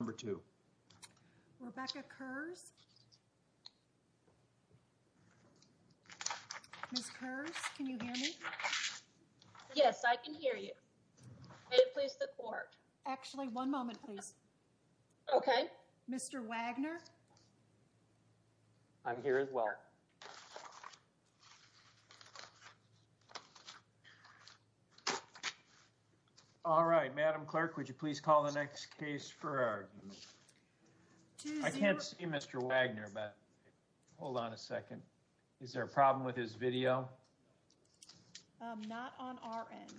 number two. Rebecca Kerr's. Miss Kerr's, can you hear me? Yes, I can hear you. Please support actually one moment, please. OK, Mr Wagner. I'm here as well. All right, Madam Clerk, would you please call the next case for our? I can't see Mr Wagner, but hold on a second. Is there a problem with his video? Not on our end.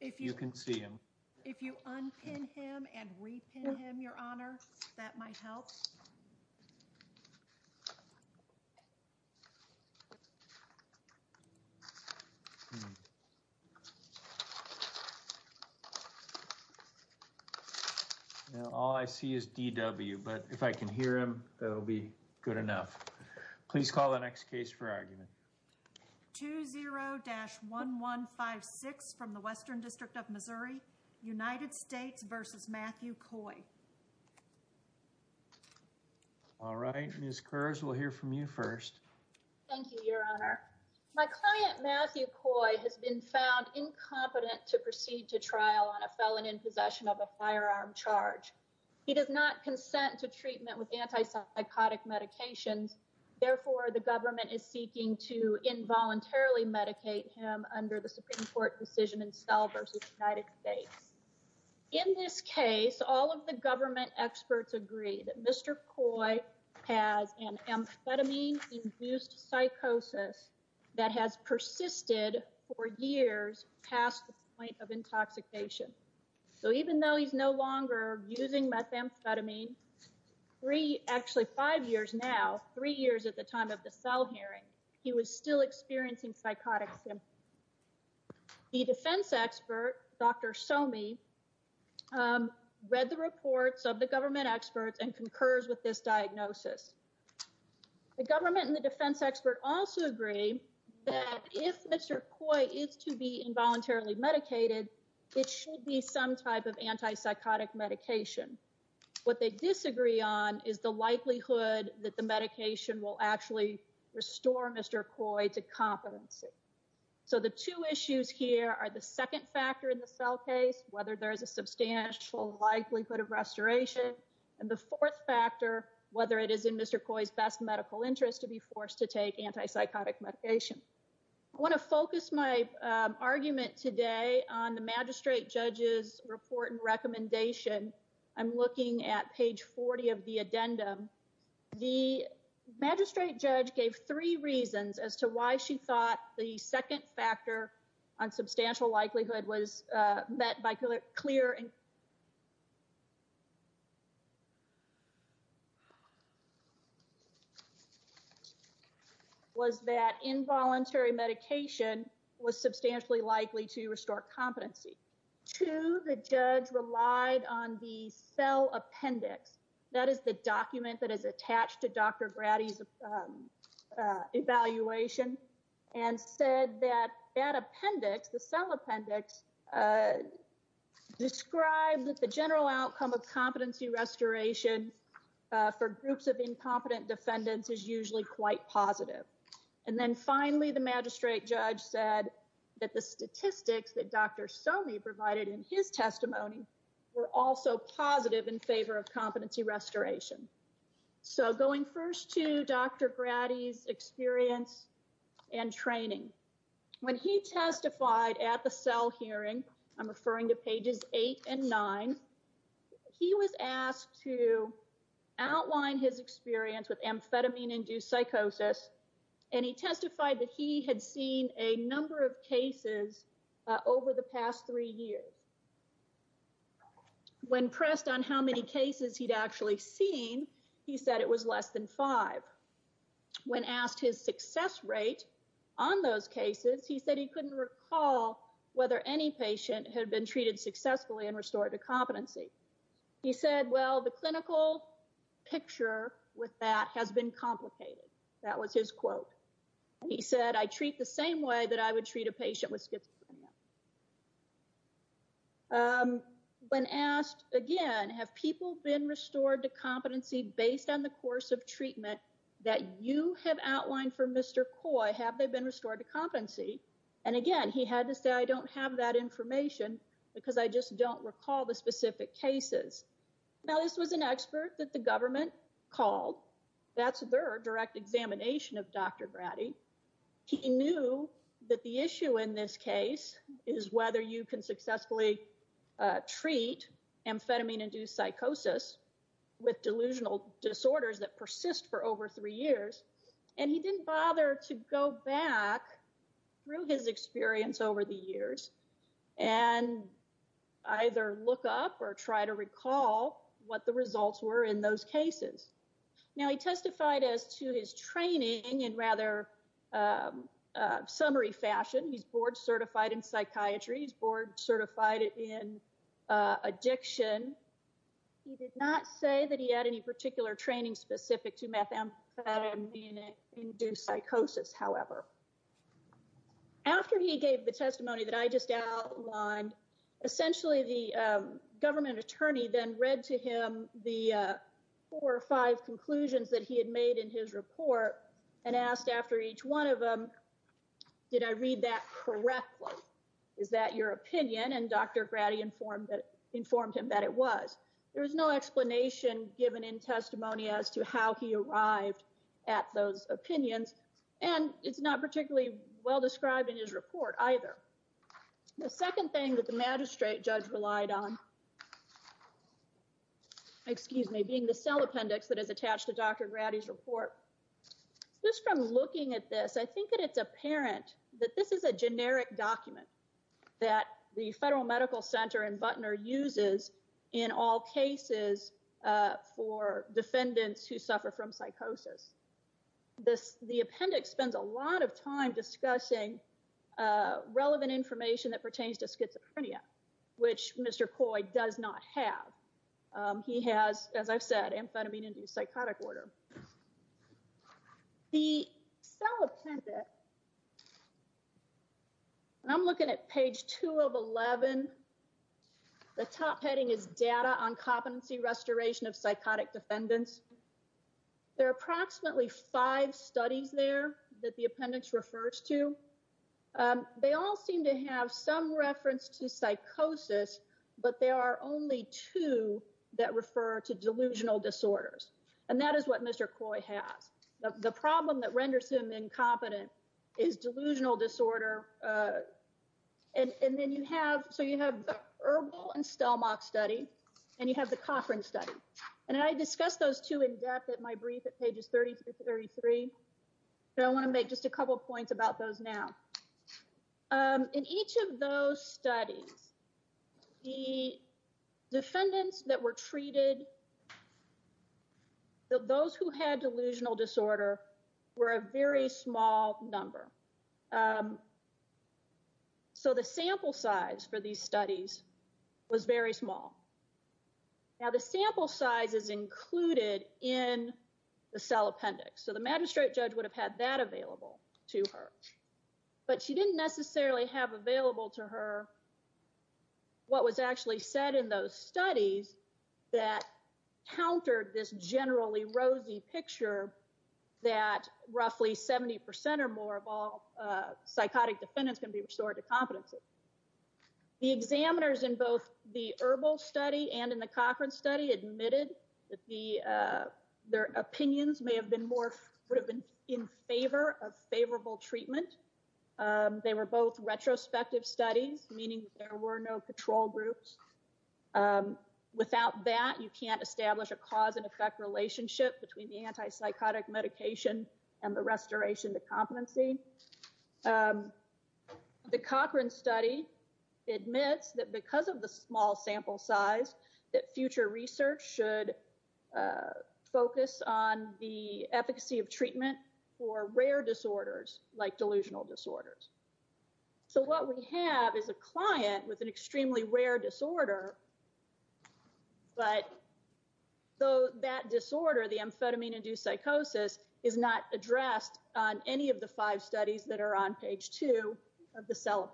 If you can see him, if you unpin him and repin him, your honor, that might help. Now, all I see is DW, but if I can hear him, that'll be good enough. Please call the next case for argument. 20-1156 from the Western District of Missouri, United States versus Matthew Coy. All right, Miss Kerr's, we'll hear from you first. Thank you, your honor. My client, Matthew Coy, has been found incompetent to proceed to trial on a felon in possession of a firearm charge. He does not consent to treatment with antipsychotic medications. Therefore, the government is seeking to involuntarily medicate him under the Supreme Court. In this case, all of the government experts agree that Mr. Coy has an amphetamine-induced psychosis that has persisted for years past the point of intoxication. So even though he's no longer using methamphetamine three, actually five years now, three years at the time of the cell hearing, he was still experiencing psychotic symptoms. The defense expert, Dr. Somi, read the reports of the government experts and concurs with this diagnosis. The government and the defense expert also agree that if Mr. Coy is to be involuntarily medicated, it should be some type of antipsychotic medication. What they disagree on is the likelihood that the medication will actually restore Mr. Coy to competency. So the two issues here are the second factor in the cell case, whether there's a substantial likelihood of restoration, and the fourth factor, whether it is in Mr. Coy's best medical interest to be forced to take antipsychotic medication. I want to focus my argument today on the magistrate judge's report and recommendation. I'm looking at page 40 of the addendum. The magistrate judge gave three reasons as to why she thought the second factor on substantial likelihood was met by clear and was that involuntary medication was substantially likely to restore competency. Two, the judge relied on the cell appendix. That is the document that is attached to Dr. Grady's evaluation and said that that appendix, the cell appendix, described that the general outcome of competency restoration for groups of incompetent defendants is usually quite positive. And then finally, the magistrate judge said that the statistics that Dr. Coy provided in his testimony were also positive in favor of competency restoration. So going first to Dr. Grady's experience and training, when he testified at the cell hearing, I'm referring to pages eight and nine, he was asked to outline his experience with amphetamine induced psychosis. And he testified that he had seen a number of cases over the past three years. When pressed on how many cases he'd actually seen, he said it was less than five. When asked his success rate on those cases, he said he couldn't recall whether any patient had been treated successfully and restored to competency. He said, well, the clinical picture with that has been complicated. That was his quote. He said, I treat the same way that I would treat a patient with schizophrenia. When asked again, have people been restored to competency based on the course of treatment that you have outlined for Mr. Coy, have they been restored to competency? And again, he had to say, I don't have that information because I just don't recall the specific cases. Now, this was an expert that the government called. That's their direct examination of Dr. Grady. He knew that the issue in this case is whether you can successfully treat amphetamine induced psychosis with delusional disorders that persist for over three years. And he didn't bother to go back through his experience over the years and either look up or try to recall what the results were in those cases. Now, he testified as to his training and rather summary fashion. He's board certified in psychiatry. He's board certified in addiction. He did not say that he had any particular training specific to methamphetamine induced psychosis, however. After he gave the testimony that I just outlined, essentially the government attorney then read to him the four or five conclusions that he had made in his report and asked after each one of them, did I read that correctly? Is that your opinion? And Dr. Grady informed him that it was. There was no explanation given in testimony as to how he arrived at those opinions. And it's not particularly well described in his report either. The second thing that the magistrate judge relied on, excuse me, being the cell appendix that is attached to Dr. Grady's report. Just from looking at this, I think that it's apparent that this is a generic document that the Federal Medical Center and Butner uses in all cases for defendants who suffer from psychosis. The appendix spends a lot of time discussing relevant information that pertains to schizophrenia, which Mr. Coy does not have. He has, as I've said, amphetamine induced psychotic disorder. The cell appendix, and I'm looking at page two of 11, the top heading is data on competency restoration of psychotic defendants. There are approximately five studies there that the appendix refers to. They all seem to have some reference to psychosis, but there are only two that refer to delusional disorders. And that is what Mr. Coy has. The problem that renders him incompetent is delusional disorder. And then you have, so you have the Erbel and Stelmach study, and you have the Cochran study. And I discussed those two in depth at my brief at pages 30 to 33. But I want to make just a couple of points about those now. In each of those studies, the defendants that were treated, those who had delusional disorder were a very small number. So the sample size for these studies was very small. Now the sample size is included in the cell appendix. So the magistrate judge would have had that available to her, but she didn't necessarily have available to her what was actually said in those studies that countered this generally rosy picture that roughly 70% or more of all psychotic defendants can be restored to competency. The examiners in both the Erbel study and in the Cochran study admitted that their opinions may have been more in favor of favorable treatment. They were both retrospective studies, meaning there were no control groups. Without that, you can't establish a cause and effect relationship between the anti-psychotic medication and the restoration to competency. The Cochran study admits that because of the focus on the efficacy of treatment for rare disorders like delusional disorders. So what we have is a client with an extremely rare disorder, but that disorder, the amphetamine induced psychosis, is not addressed on any of the five studies that are on page two of the cell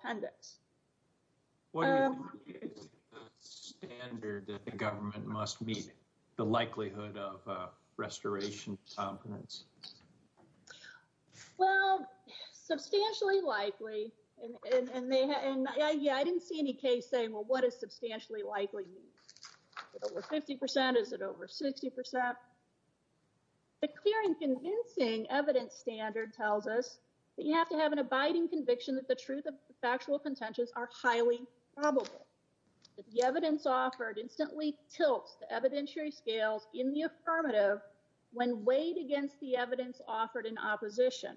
the likelihood of restoration competence. Well, substantially likely, and I didn't see any case saying, well, what is substantially likely? Is it over 50%? Is it over 60%? The clear and convincing evidence standard tells us that you have to have an abiding conviction that the truth of the factual contentions are highly probable. The evidence offered instantly tilts the evidentiary scales in the affirmative when weighed against the evidence offered in opposition.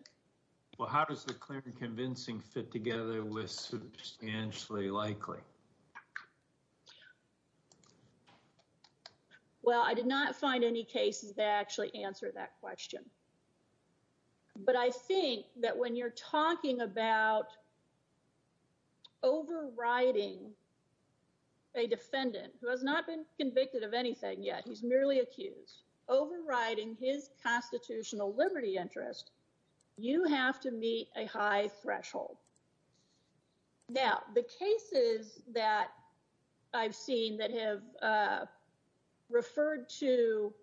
Well, how does the clear and convincing fit together with substantially likely? Well, I did not find any cases that answer that question. But I think that when you're talking about overriding a defendant who has not been convicted of anything yet, he's merely accused, overriding his constitutional liberty interest, you have to meet a high threshold. Now, the cases that I've seen that have referred to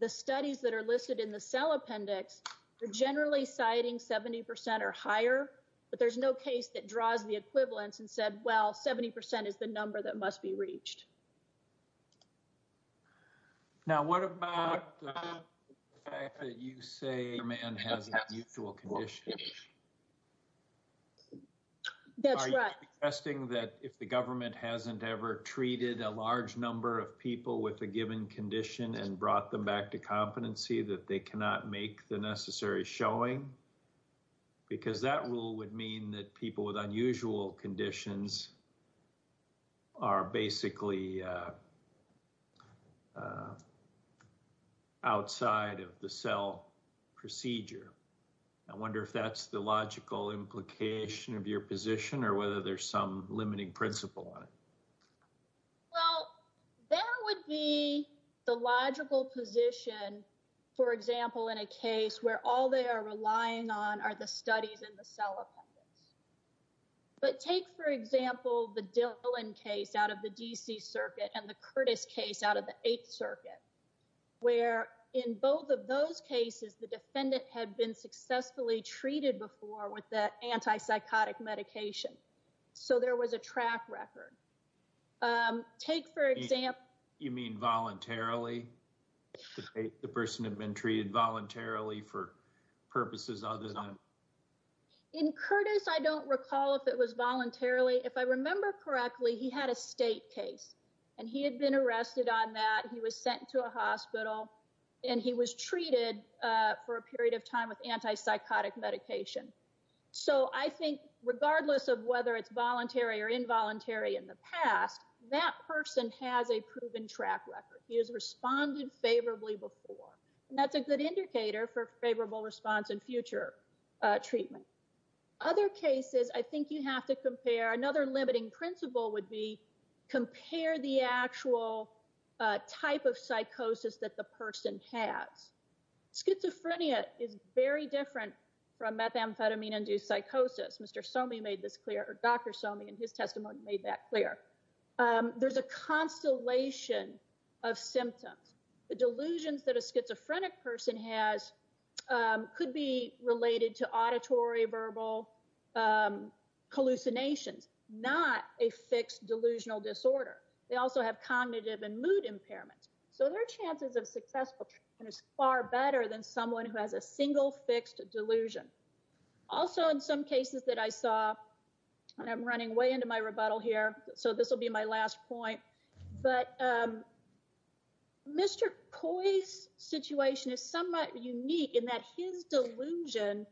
the studies that are listed in the cell appendix are generally citing 70% or higher, but there's no case that draws the equivalence and said, well, 70% is the number that must be reached. Now, what about the fact that you say your man has unusual conditions? That's right. Are you suggesting that if the government hasn't ever treated a large number of people with a given condition and brought them back to competency that they cannot make the necessary showing? Because that rule would mean that people with unusual conditions are basically outside of the cell procedure. I wonder if that's the logical implication of your position or whether there's some limiting principle on it. Well, that would be the logical position, for example, in a case where all they are relying on are the studies in the cell appendix. But take, for example, the Dillon case out of the D.C. Circuit and the Curtis case out of the Eighth Circuit, where in both of those cases, the defendant had been successfully treated before with that antipsychotic medication. So there was a track record. Take, for example— You mean voluntarily? The person had been treated voluntarily for purposes other than— In Curtis, I don't recall if it was voluntarily. If I remember correctly, he had a state case and he had been arrested on that. He was sent to a hospital and he was treated for a period of time with antipsychotic medication. So I think regardless of whether it's voluntary or involuntary in the past, that person has a proven track record. He has responded favorably before, and that's a good indicator for favorable response in future treatment. Other cases, I think you have to compare. Another limiting principle would be compare the actual type of psychosis that the person has. Schizophrenia is very different from methamphetamine-induced psychosis. Dr. Somi, in his testimony, made that clear. There's a constellation of symptoms. The delusions that a schizophrenic person has could be related to auditory-verbal hallucinations, not a fixed delusional disorder. They also have cognitive and mood impairments. So their chances of successful treatment is far better than someone who has a single fixed delusion. Also, in some cases that I saw—and I'm running way into my rebuttal here, so this will be my last point—but Mr. Coy's situation is somewhat unique in that his delusion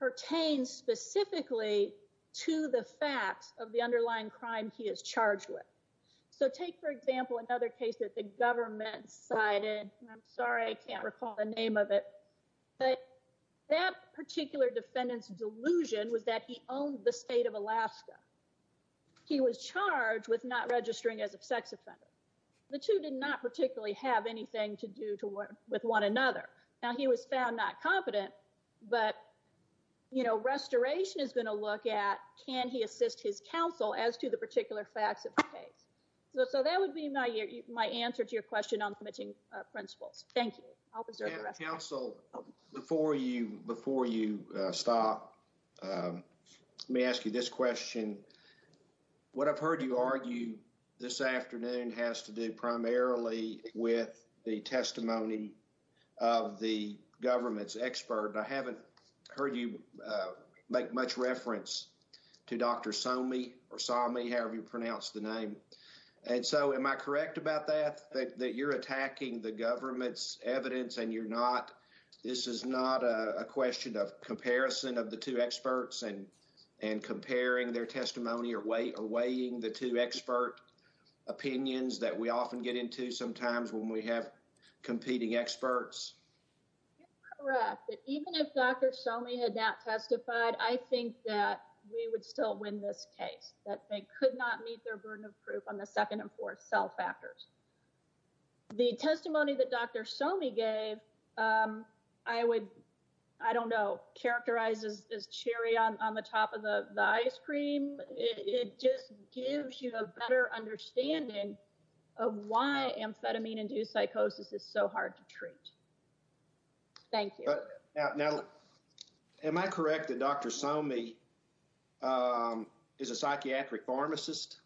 pertains specifically to the facts of the underlying crime he is charged with. So take, for example, another case that the government cited—and I'm sorry I can't recall the name of it—but that particular defendant's delusion was that he owned the state of Alaska. He was charged with not registering as a sex offender. The two did not particularly have anything to do with one another. Now, he was found not competent, but Restoration is going to look at, can he assist his counsel as to the particular facts of the case? So that would be my answer to your question on committing principles. Thank you. Counsel, before you stop, let me ask you this question. What I've heard you argue this afternoon has to do primarily with the testimony of the government's expert. I haven't heard you make much reference to Dr. Somi, however you pronounce the name. And so am I correct about that, that you're attacking the government's evidence and you're not—this is not a question of comparison of the two experts and comparing their testimony or weighing the two expert opinions that we often get into sometimes when we have competing experts? You're correct. But even if Dr. Somi had not testified, I think that we would still win this group on the second and fourth cell factors. The testimony that Dr. Somi gave, I would, I don't know, characterize as cherry on the top of the ice cream. It just gives you a better understanding of why amphetamine-induced psychosis is so hard to treat. Thank you. Now, am I correct that Dr. Somi is a psychiatric pharmacist?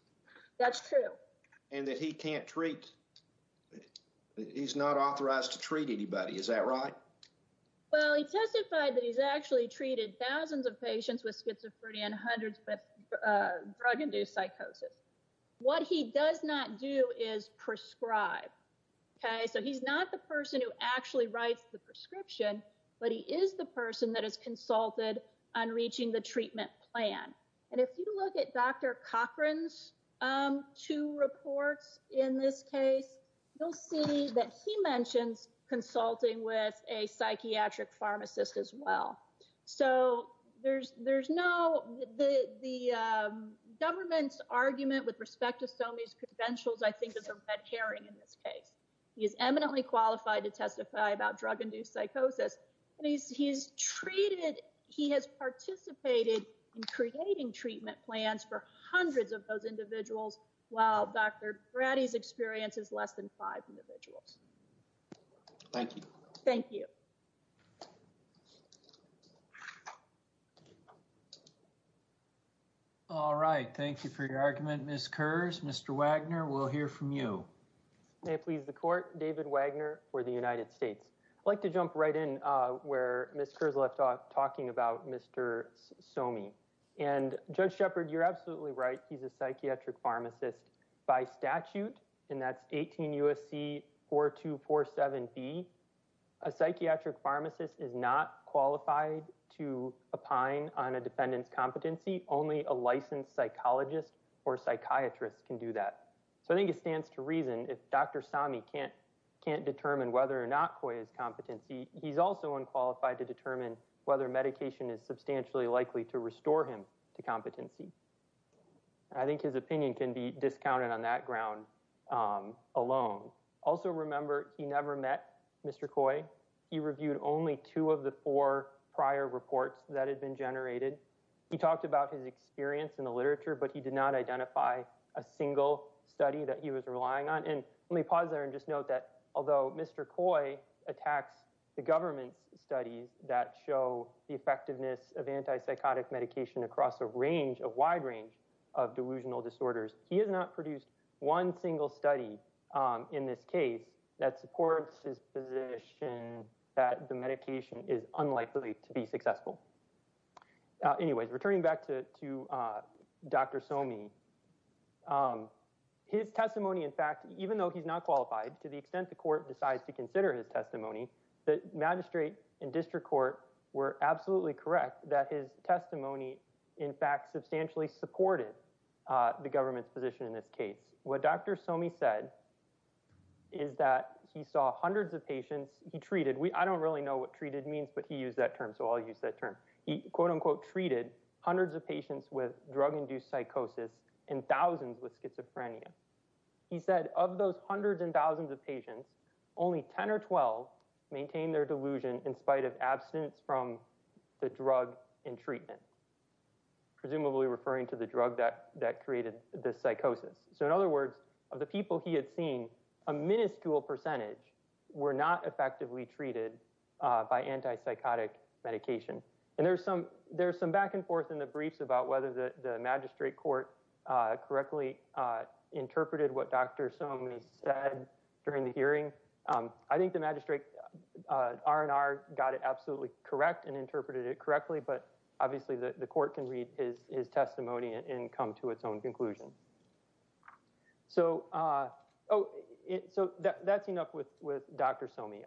That's true. And that he can't treat—he's not authorized to treat anybody. Is that right? Well, he testified that he's actually treated thousands of patients with schizophrenia and hundreds with drug-induced psychosis. What he does not do is prescribe, okay? So he's not the person who actually writes the prescription, but he is the person that is consulted on reaching the treatment plan. And if you look at Dr. Cochran's two reports in this case, you'll see that he mentions consulting with a psychiatric pharmacist as well. So there's no—the government's argument with respect to Somi's credentials, I think, is a red herring in this case. He is eminently qualified to testify about drug-induced psychosis, and he's treated—he has participated in creating treatment plans for hundreds of those individuals while Dr. Brady's experience is less than five individuals. Thank you. Thank you. All right. Thank you for your argument, Ms. Kurz. Mr. Wagner, we'll hear from you. May it please the Court. David Wagner for the United States. I'd like to jump right in where Ms. Kurz left off, talking about Mr. Somi. And Judge Shepard, you're absolutely right. He's a psychiatric pharmacist by statute, and that's 18 U.S.C. 4247B. A psychiatric pharmacist is not qualified to opine on a defendant's competency. Only a licensed psychologist or psychiatrist can do that. So I think it stands to reason if Dr. Somi can't determine whether or not Coy's competency, he's also unqualified to determine whether medication is substantially likely to restore him to competency. I think his opinion can be discounted on that ground alone. Also remember, he never met Mr. Coy. He reviewed only two of the four prior reports that had been generated. He talked about his experience in the literature, but he did not identify a single study that he was relying on. And let me pause there and just note that although Mr. Coy attacks the government's studies that show the effectiveness of antipsychotic medication across a range, a wide range, of delusional disorders, he has not produced one single study in this case that supports his position that the medication is unlikely to be successful. Anyways, returning back to Dr. Somi, his testimony, in fact, even though he's not qualified, to the extent the court decides to consider his testimony, the magistrate and district court were absolutely correct that his testimony, in fact, substantially supported the government's position in this case. What Dr. Somi said is that he saw hundreds of patients he treated. I don't really know what treated means, but he used that term, so I'll use that term. He, quote-unquote, treated hundreds of patients with drug-induced psychosis and thousands with schizophrenia. He said of those hundreds and thousands of patients, only 10 or 12 maintained their delusion in spite of abstinence from the drug in treatment, presumably referring to the drug that created the psychosis. So in other words, of the people he had seen, a minuscule percentage were not effectively treated by antipsychotic medication. And there's some back and forth in the briefs about whether the magistrate court correctly interpreted what Dr. Somi said during the hearing. I think the magistrate R&R got it absolutely correct and interpreted it correctly, but obviously the court can read his testimony and come to its own conclusion. So that's enough with Dr. Somi.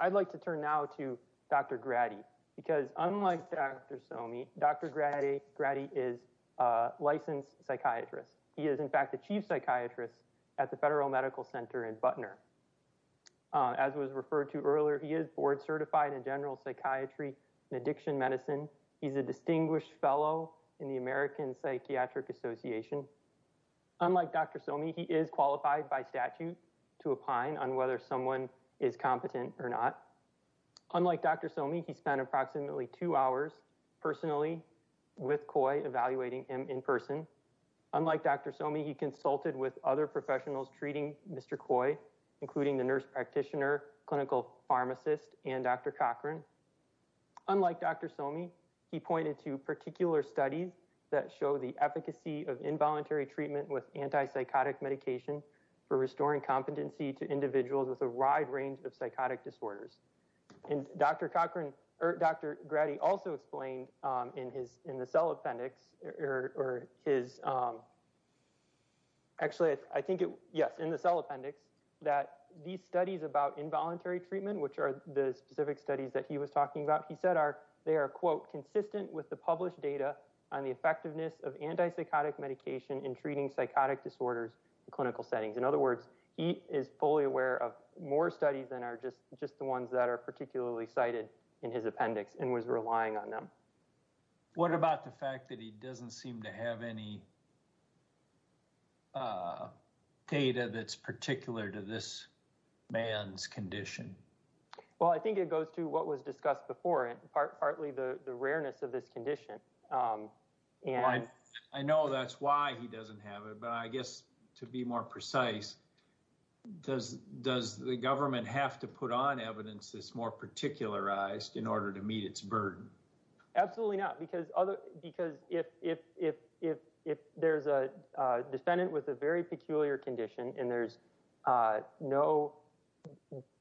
I'd like to turn now to Dr. Grady, because unlike Dr. Somi, Dr. Grady is a licensed psychiatrist. He is, in fact, the chief psychiatrist at the Federal Medical Center in Butner. As was referred to earlier, he is board-certified in general psychiatry and addiction medicine. He's a distinguished fellow in the American Psychiatric Association. Unlike Dr. Somi, he is qualified by statute to opine on whether someone is competent or not. Unlike Dr. Somi, he spent approximately two hours personally with COI evaluating him in person. Unlike Dr. Somi, he consulted with other professionals treating Mr. COI, including the nurse practitioner, clinical pharmacist, and Dr. Cochran. Unlike Dr. Somi, he pointed to particular studies that show the efficacy of involuntary treatment with antipsychotic medication for restoring competency to individuals with a wide range of psychotic disorders. Dr. Grady also explained in the cell appendix that these studies about involuntary the published data on the effectiveness of antipsychotic medication in treating psychotic disorders in clinical settings. In other words, he is fully aware of more studies than are just the ones that are particularly cited in his appendix and was relying on them. What about the fact that he doesn't seem to have any data that's particular to this man's condition? Well, I think it goes to what was discussed before and partly the rareness of this condition. I know that's why he doesn't have it, but I guess to be more precise, does the government have to put on evidence that's more particularized in order to meet its burden? Absolutely not, because if there's a defendant with a very peculiar condition and there's no,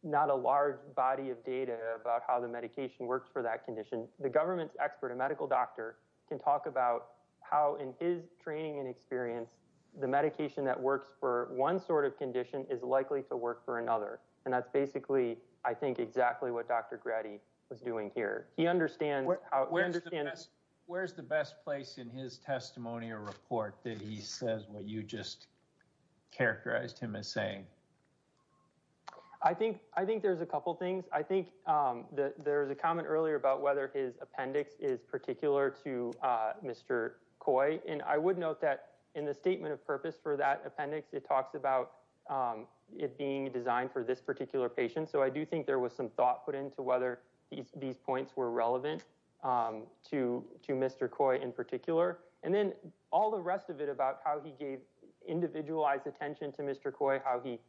not a large body of data about how the medication works for that condition, the government's expert, a medical doctor, can talk about how in his training and experience the medication that works for one sort of condition is likely to work for another. And that's basically, I think, exactly what Dr. Grady was doing here. Where's the best place in his testimony or report that he says what you just characterized him as saying? I think there's a couple things. I think there was a comment earlier about whether his appendix is particular to Mr. Coy. And I would note that in the statement of purpose for that appendix, it talks about it being designed for this particular patient. So I do think there was some thought put into whether these points were relevant to Mr. Coy in particular. And then all the rest of it about how he gave individualized attention to Mr. Coy, how he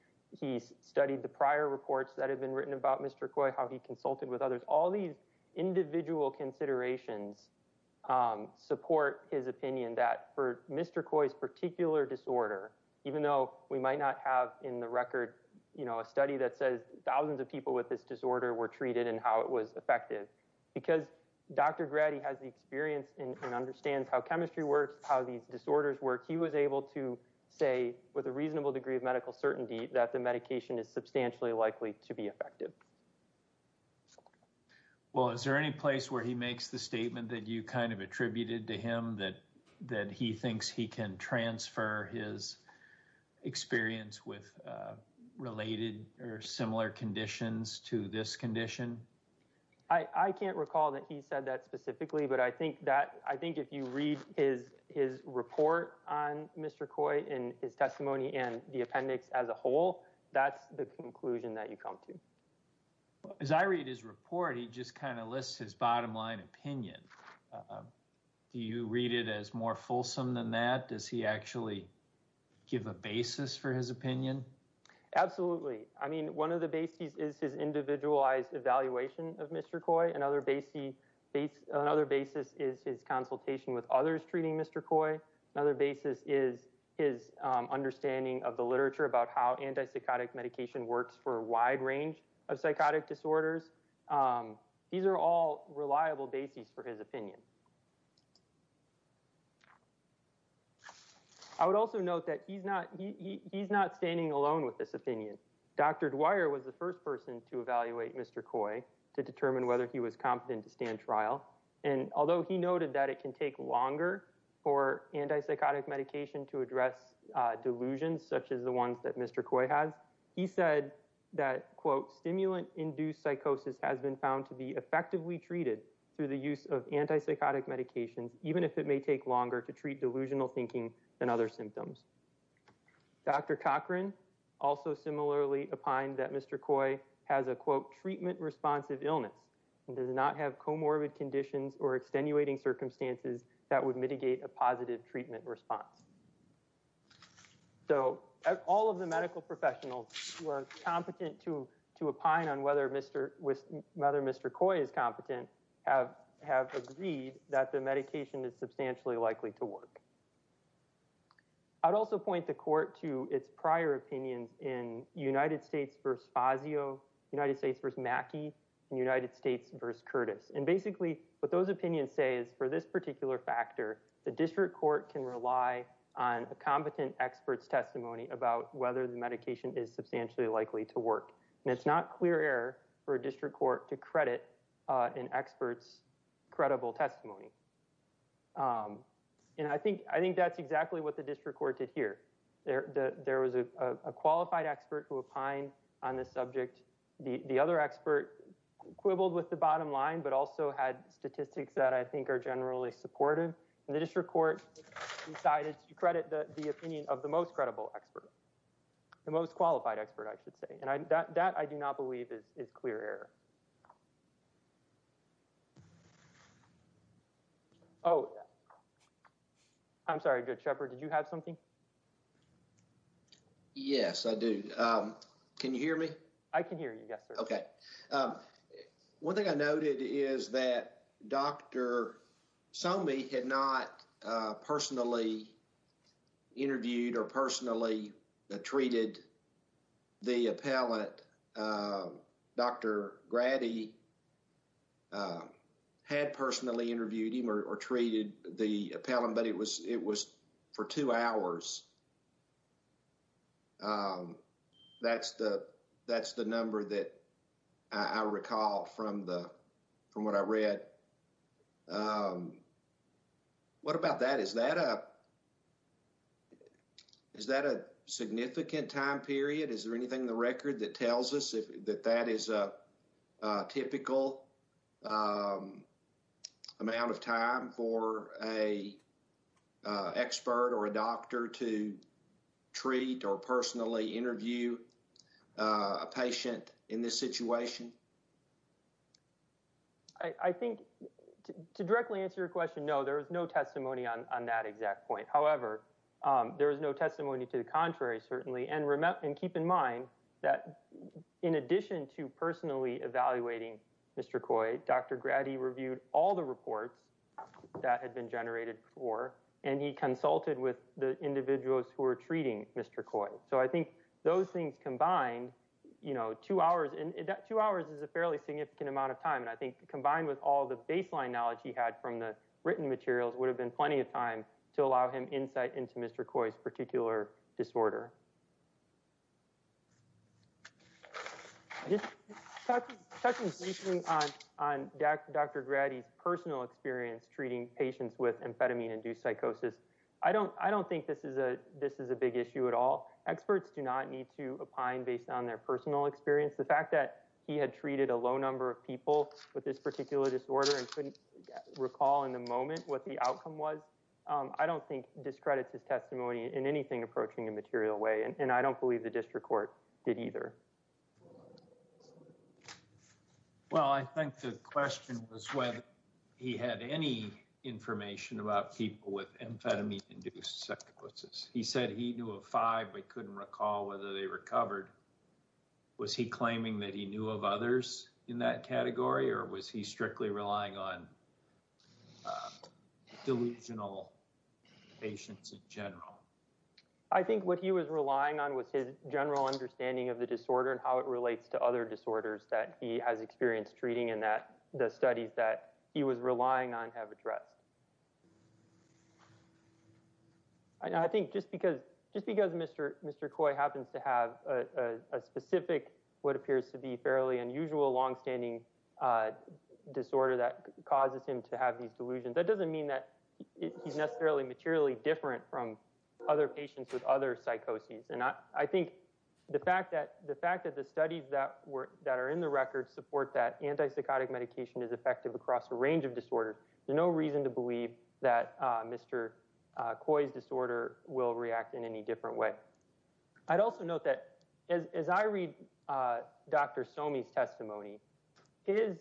studied the prior reports that had been written about Mr. Coy, how he consulted with others. All these individual considerations support his opinion that for Mr. Coy's particular disorder, even though we might not have in the record, you know, a study that says thousands of people with this disorder were treated and how it was effective. Because Dr. Grady has the experience and understands how chemistry works, how these disorders work. He was able to say with a reasonable degree of medical certainty that the medication is substantially likely to be effective. Well, is there any place where he makes the statement that you kind of attributed to him that that he thinks he can transfer his experience with related or similar conditions to this I think if you read his report on Mr. Coy in his testimony and the appendix as a whole, that's the conclusion that you come to. As I read his report, he just kind of lists his bottom line opinion. Do you read it as more fulsome than that? Does he actually give a basis for his opinion? Absolutely. I mean, one of the bases is his individualized of Mr. Coy. Another basis is his consultation with others treating Mr. Coy. Another basis is his understanding of the literature about how antipsychotic medication works for a wide range of psychotic disorders. These are all reliable bases for his opinion. I would also note that he's not standing alone with this opinion. Dr. Dwyer was the first person to evaluate Mr. Coy to determine whether he was competent to stand trial. And although he noted that it can take longer for antipsychotic medication to address delusions such as the ones that Mr. Coy has, he said that, quote, stimulant-induced psychosis has been found to be effectively treated through the use of antipsychotic medications, even if it may take longer to treat delusional thinking than other symptoms. Dr. Cochran also similarly opined that Mr. Coy has a, quote, treatment-responsive illness and does not have comorbid conditions or extenuating circumstances that would mitigate a positive treatment response. So all of the medical professionals who are competent to opine on whether Mr. Coy is competent have agreed that the medication is substantially likely to work. I'd also point the court to its prior opinions in United States v. Fazio, United States v. Mackey, and United States v. Curtis. And basically, what those opinions say is for this particular factor, the district court can rely on a competent expert's testimony about whether the medication is substantially likely to work. And it's not clear error for a district court to credit an expert's credible testimony. And I think that's exactly what the district court did here. There was a qualified expert who opined on this subject. The other expert quibbled with the bottom line but also had statistics that I think are generally supportive. And the district court decided to credit the opinion of the most credible expert, the most qualified expert, I should say. And that, I do not believe, is clear error. Oh, I'm sorry, Judge Shepard, did you have something? Yes, I do. Can you hear me? I can hear you, yes, sir. Okay. One thing I noted is that Dr. Somi had not personally interviewed or personally treated the appellant. Dr. Grady had personally interviewed him or treated the appellant, but it was for two hours. That's the number that I recall from what I read. Okay. What about that? Is that a significant time period? Is there anything in the record that tells us that that is a typical amount of time for an expert or a doctor to treat or personally interview a patient in this situation? I think, to directly answer your question, no, there is no testimony on that exact point. However, there is no testimony to the contrary, certainly. And keep in mind that in addition to personally evaluating Mr. Coy, Dr. Grady reviewed all the reports that had been generated before, and he consulted with the individuals who were treating Mr. Coy. So I think those things combined, you know, two hours is a fairly significant amount of time. And I think combined with all the baseline knowledge he had from the written materials would have been plenty of time to allow him insight into Mr. Coy's particular disorder. Just touching briefly on Dr. Grady's personal experience treating patients with amphetamine is a big issue at all. Experts do not need to opine based on their personal experience. The fact that he had treated a low number of people with this particular disorder and couldn't recall in the moment what the outcome was, I don't think discredits his testimony in anything approaching a material way. And I don't believe the district court did either. Well, I think the question was whether he had any information about people with amphetamine-induced sequences. He said he knew of five but couldn't recall whether they recovered. Was he claiming that he knew of others in that category, or was he strictly relying on delusional patients in general? I think what he was relying on was his general understanding of the disorder and how it relates to other disorders that he has experienced treating and that the studies that he was relying on have addressed. I think just because Mr. Coy happens to have a specific, what appears to be fairly unusual, longstanding disorder that causes him to have these delusions, that doesn't mean that he's necessarily materially different from other patients with other psychoses. And I think the fact that the studies that are in the record support that antipsychotic medication is effective across a range of disorders, there's no reason to believe that Mr. Coy's disorder will react in any different way. I'd also note that as I read Dr. Somi's testimony, the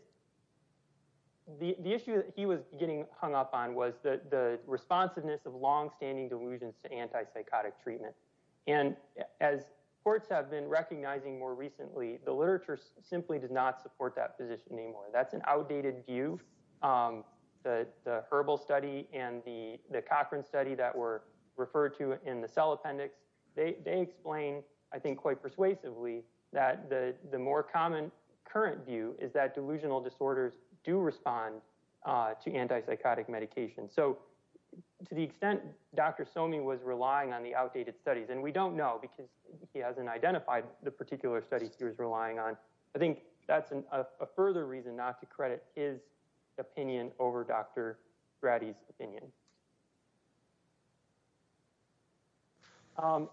issue that he was getting hung up on was the responsiveness of longstanding delusions to antipsychotic treatment. And as courts have been recognizing more recently, the literature simply does not support that position anymore. That's an outdated view. The Herbal study and the Cochran study that were referred to in the Cell Appendix, they explain, I think quite persuasively, that the more common current view is that delusional disorders do respond to antipsychotic medication. So to the extent Dr. Somi was relying on the outdated studies, and we don't know because he hasn't identified the particular studies he was relying on, I think that's a further reason not to credit his opinion over Dr. Grady's opinion.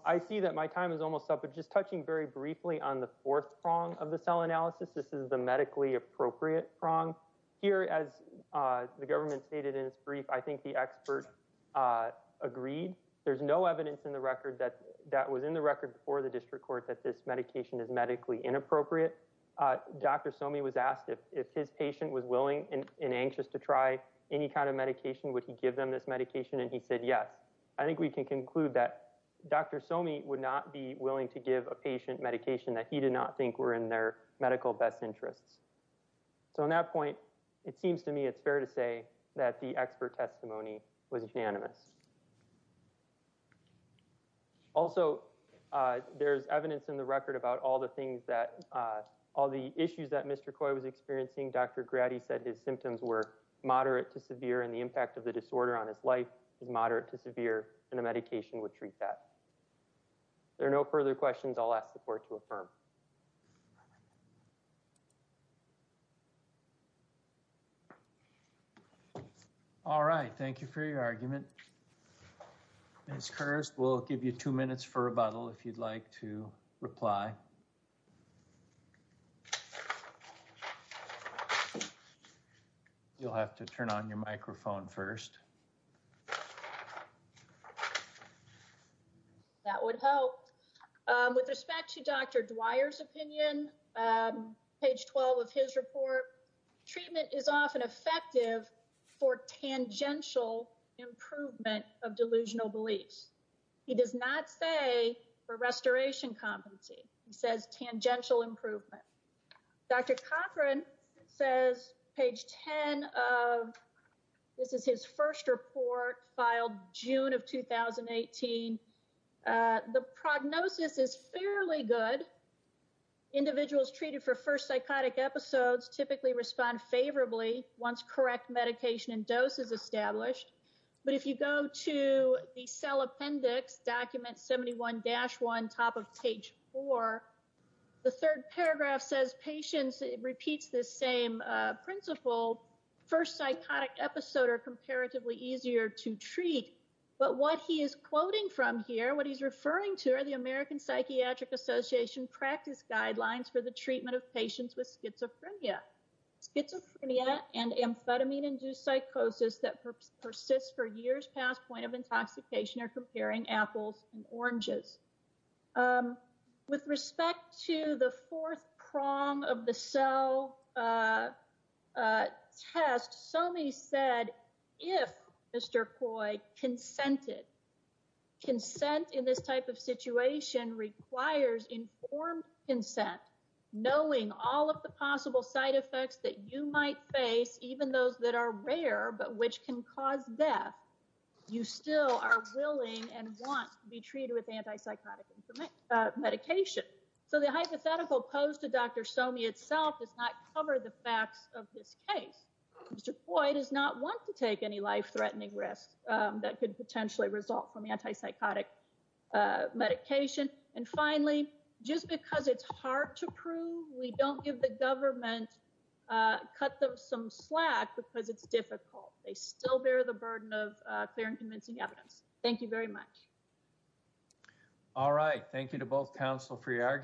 I see that my time is almost up, but just touching very briefly on the fourth prong of the cell analysis, this is the medically appropriate prong. Here, as the government stated in its brief, I think the expert agreed. There's no evidence in the record that that this medication is medically inappropriate. Dr. Somi was asked if his patient was willing and anxious to try any kind of medication, would he give them this medication? And he said, yes. I think we can conclude that Dr. Somi would not be willing to give a patient medication that he did not think were in their medical best interests. So on that point, it seems to me it's fair to say that the expert testimony was unanimous. Also, there's evidence in the record about all the things that, all the issues that Mr. Coy was experiencing. Dr. Grady said his symptoms were moderate to severe and the impact of the disorder on his life is moderate to severe, and the medication would treat that. If there are no further questions, I'll ask the court to affirm. All right. Thank you for your argument. Ms. Kirst, we'll give you two minutes for rebuttal if you'd like to reply. You'll have to turn on your microphone first. All right. That would help. With respect to Dr. Dwyer's opinion, page 12 of his report, treatment is often effective for tangential improvement of delusional beliefs. He does not say for restoration competency. He says tangential improvement. Dr. Cochran says, page 10 of, this is his first report filed June of 2018. The prognosis is fairly good. Individuals treated for first psychotic episodes typically respond favorably once correct medication and dose is established. But if you go to the cell appendix document 71-1, top of page four, the third paragraph says patients, it repeats the same principle. First psychotic episode are comparatively easier to treat. But what he is quoting from here, what he's referring to are the American Psychiatric Association practice guidelines for the treatment of patients with schizophrenia. Schizophrenia and amphetamine induced psychosis that persists for years past point of intoxication are comparing apples and oranges. With respect to the fourth prong of the cell test, Somi said, if Mr. Coy consented, consent in this type of situation requires informed consent, knowing all of the possible side effects that you might face, even those that are rare, but which can cause death, you still are willing and want to be treated with antipsychotic medication. So the hypothetical posed to Dr. Somi itself does not cover the facts of this case. Mr. Coy does not want to take any life-threatening risks that could potentially result from antipsychotic medication. And finally, just because it's hard to prove, we don't give the government cut them some slack because it's difficult. They still bear the burden of clear and convincing evidence. Thank you very much. All right. Thank you to both counsel for your argument.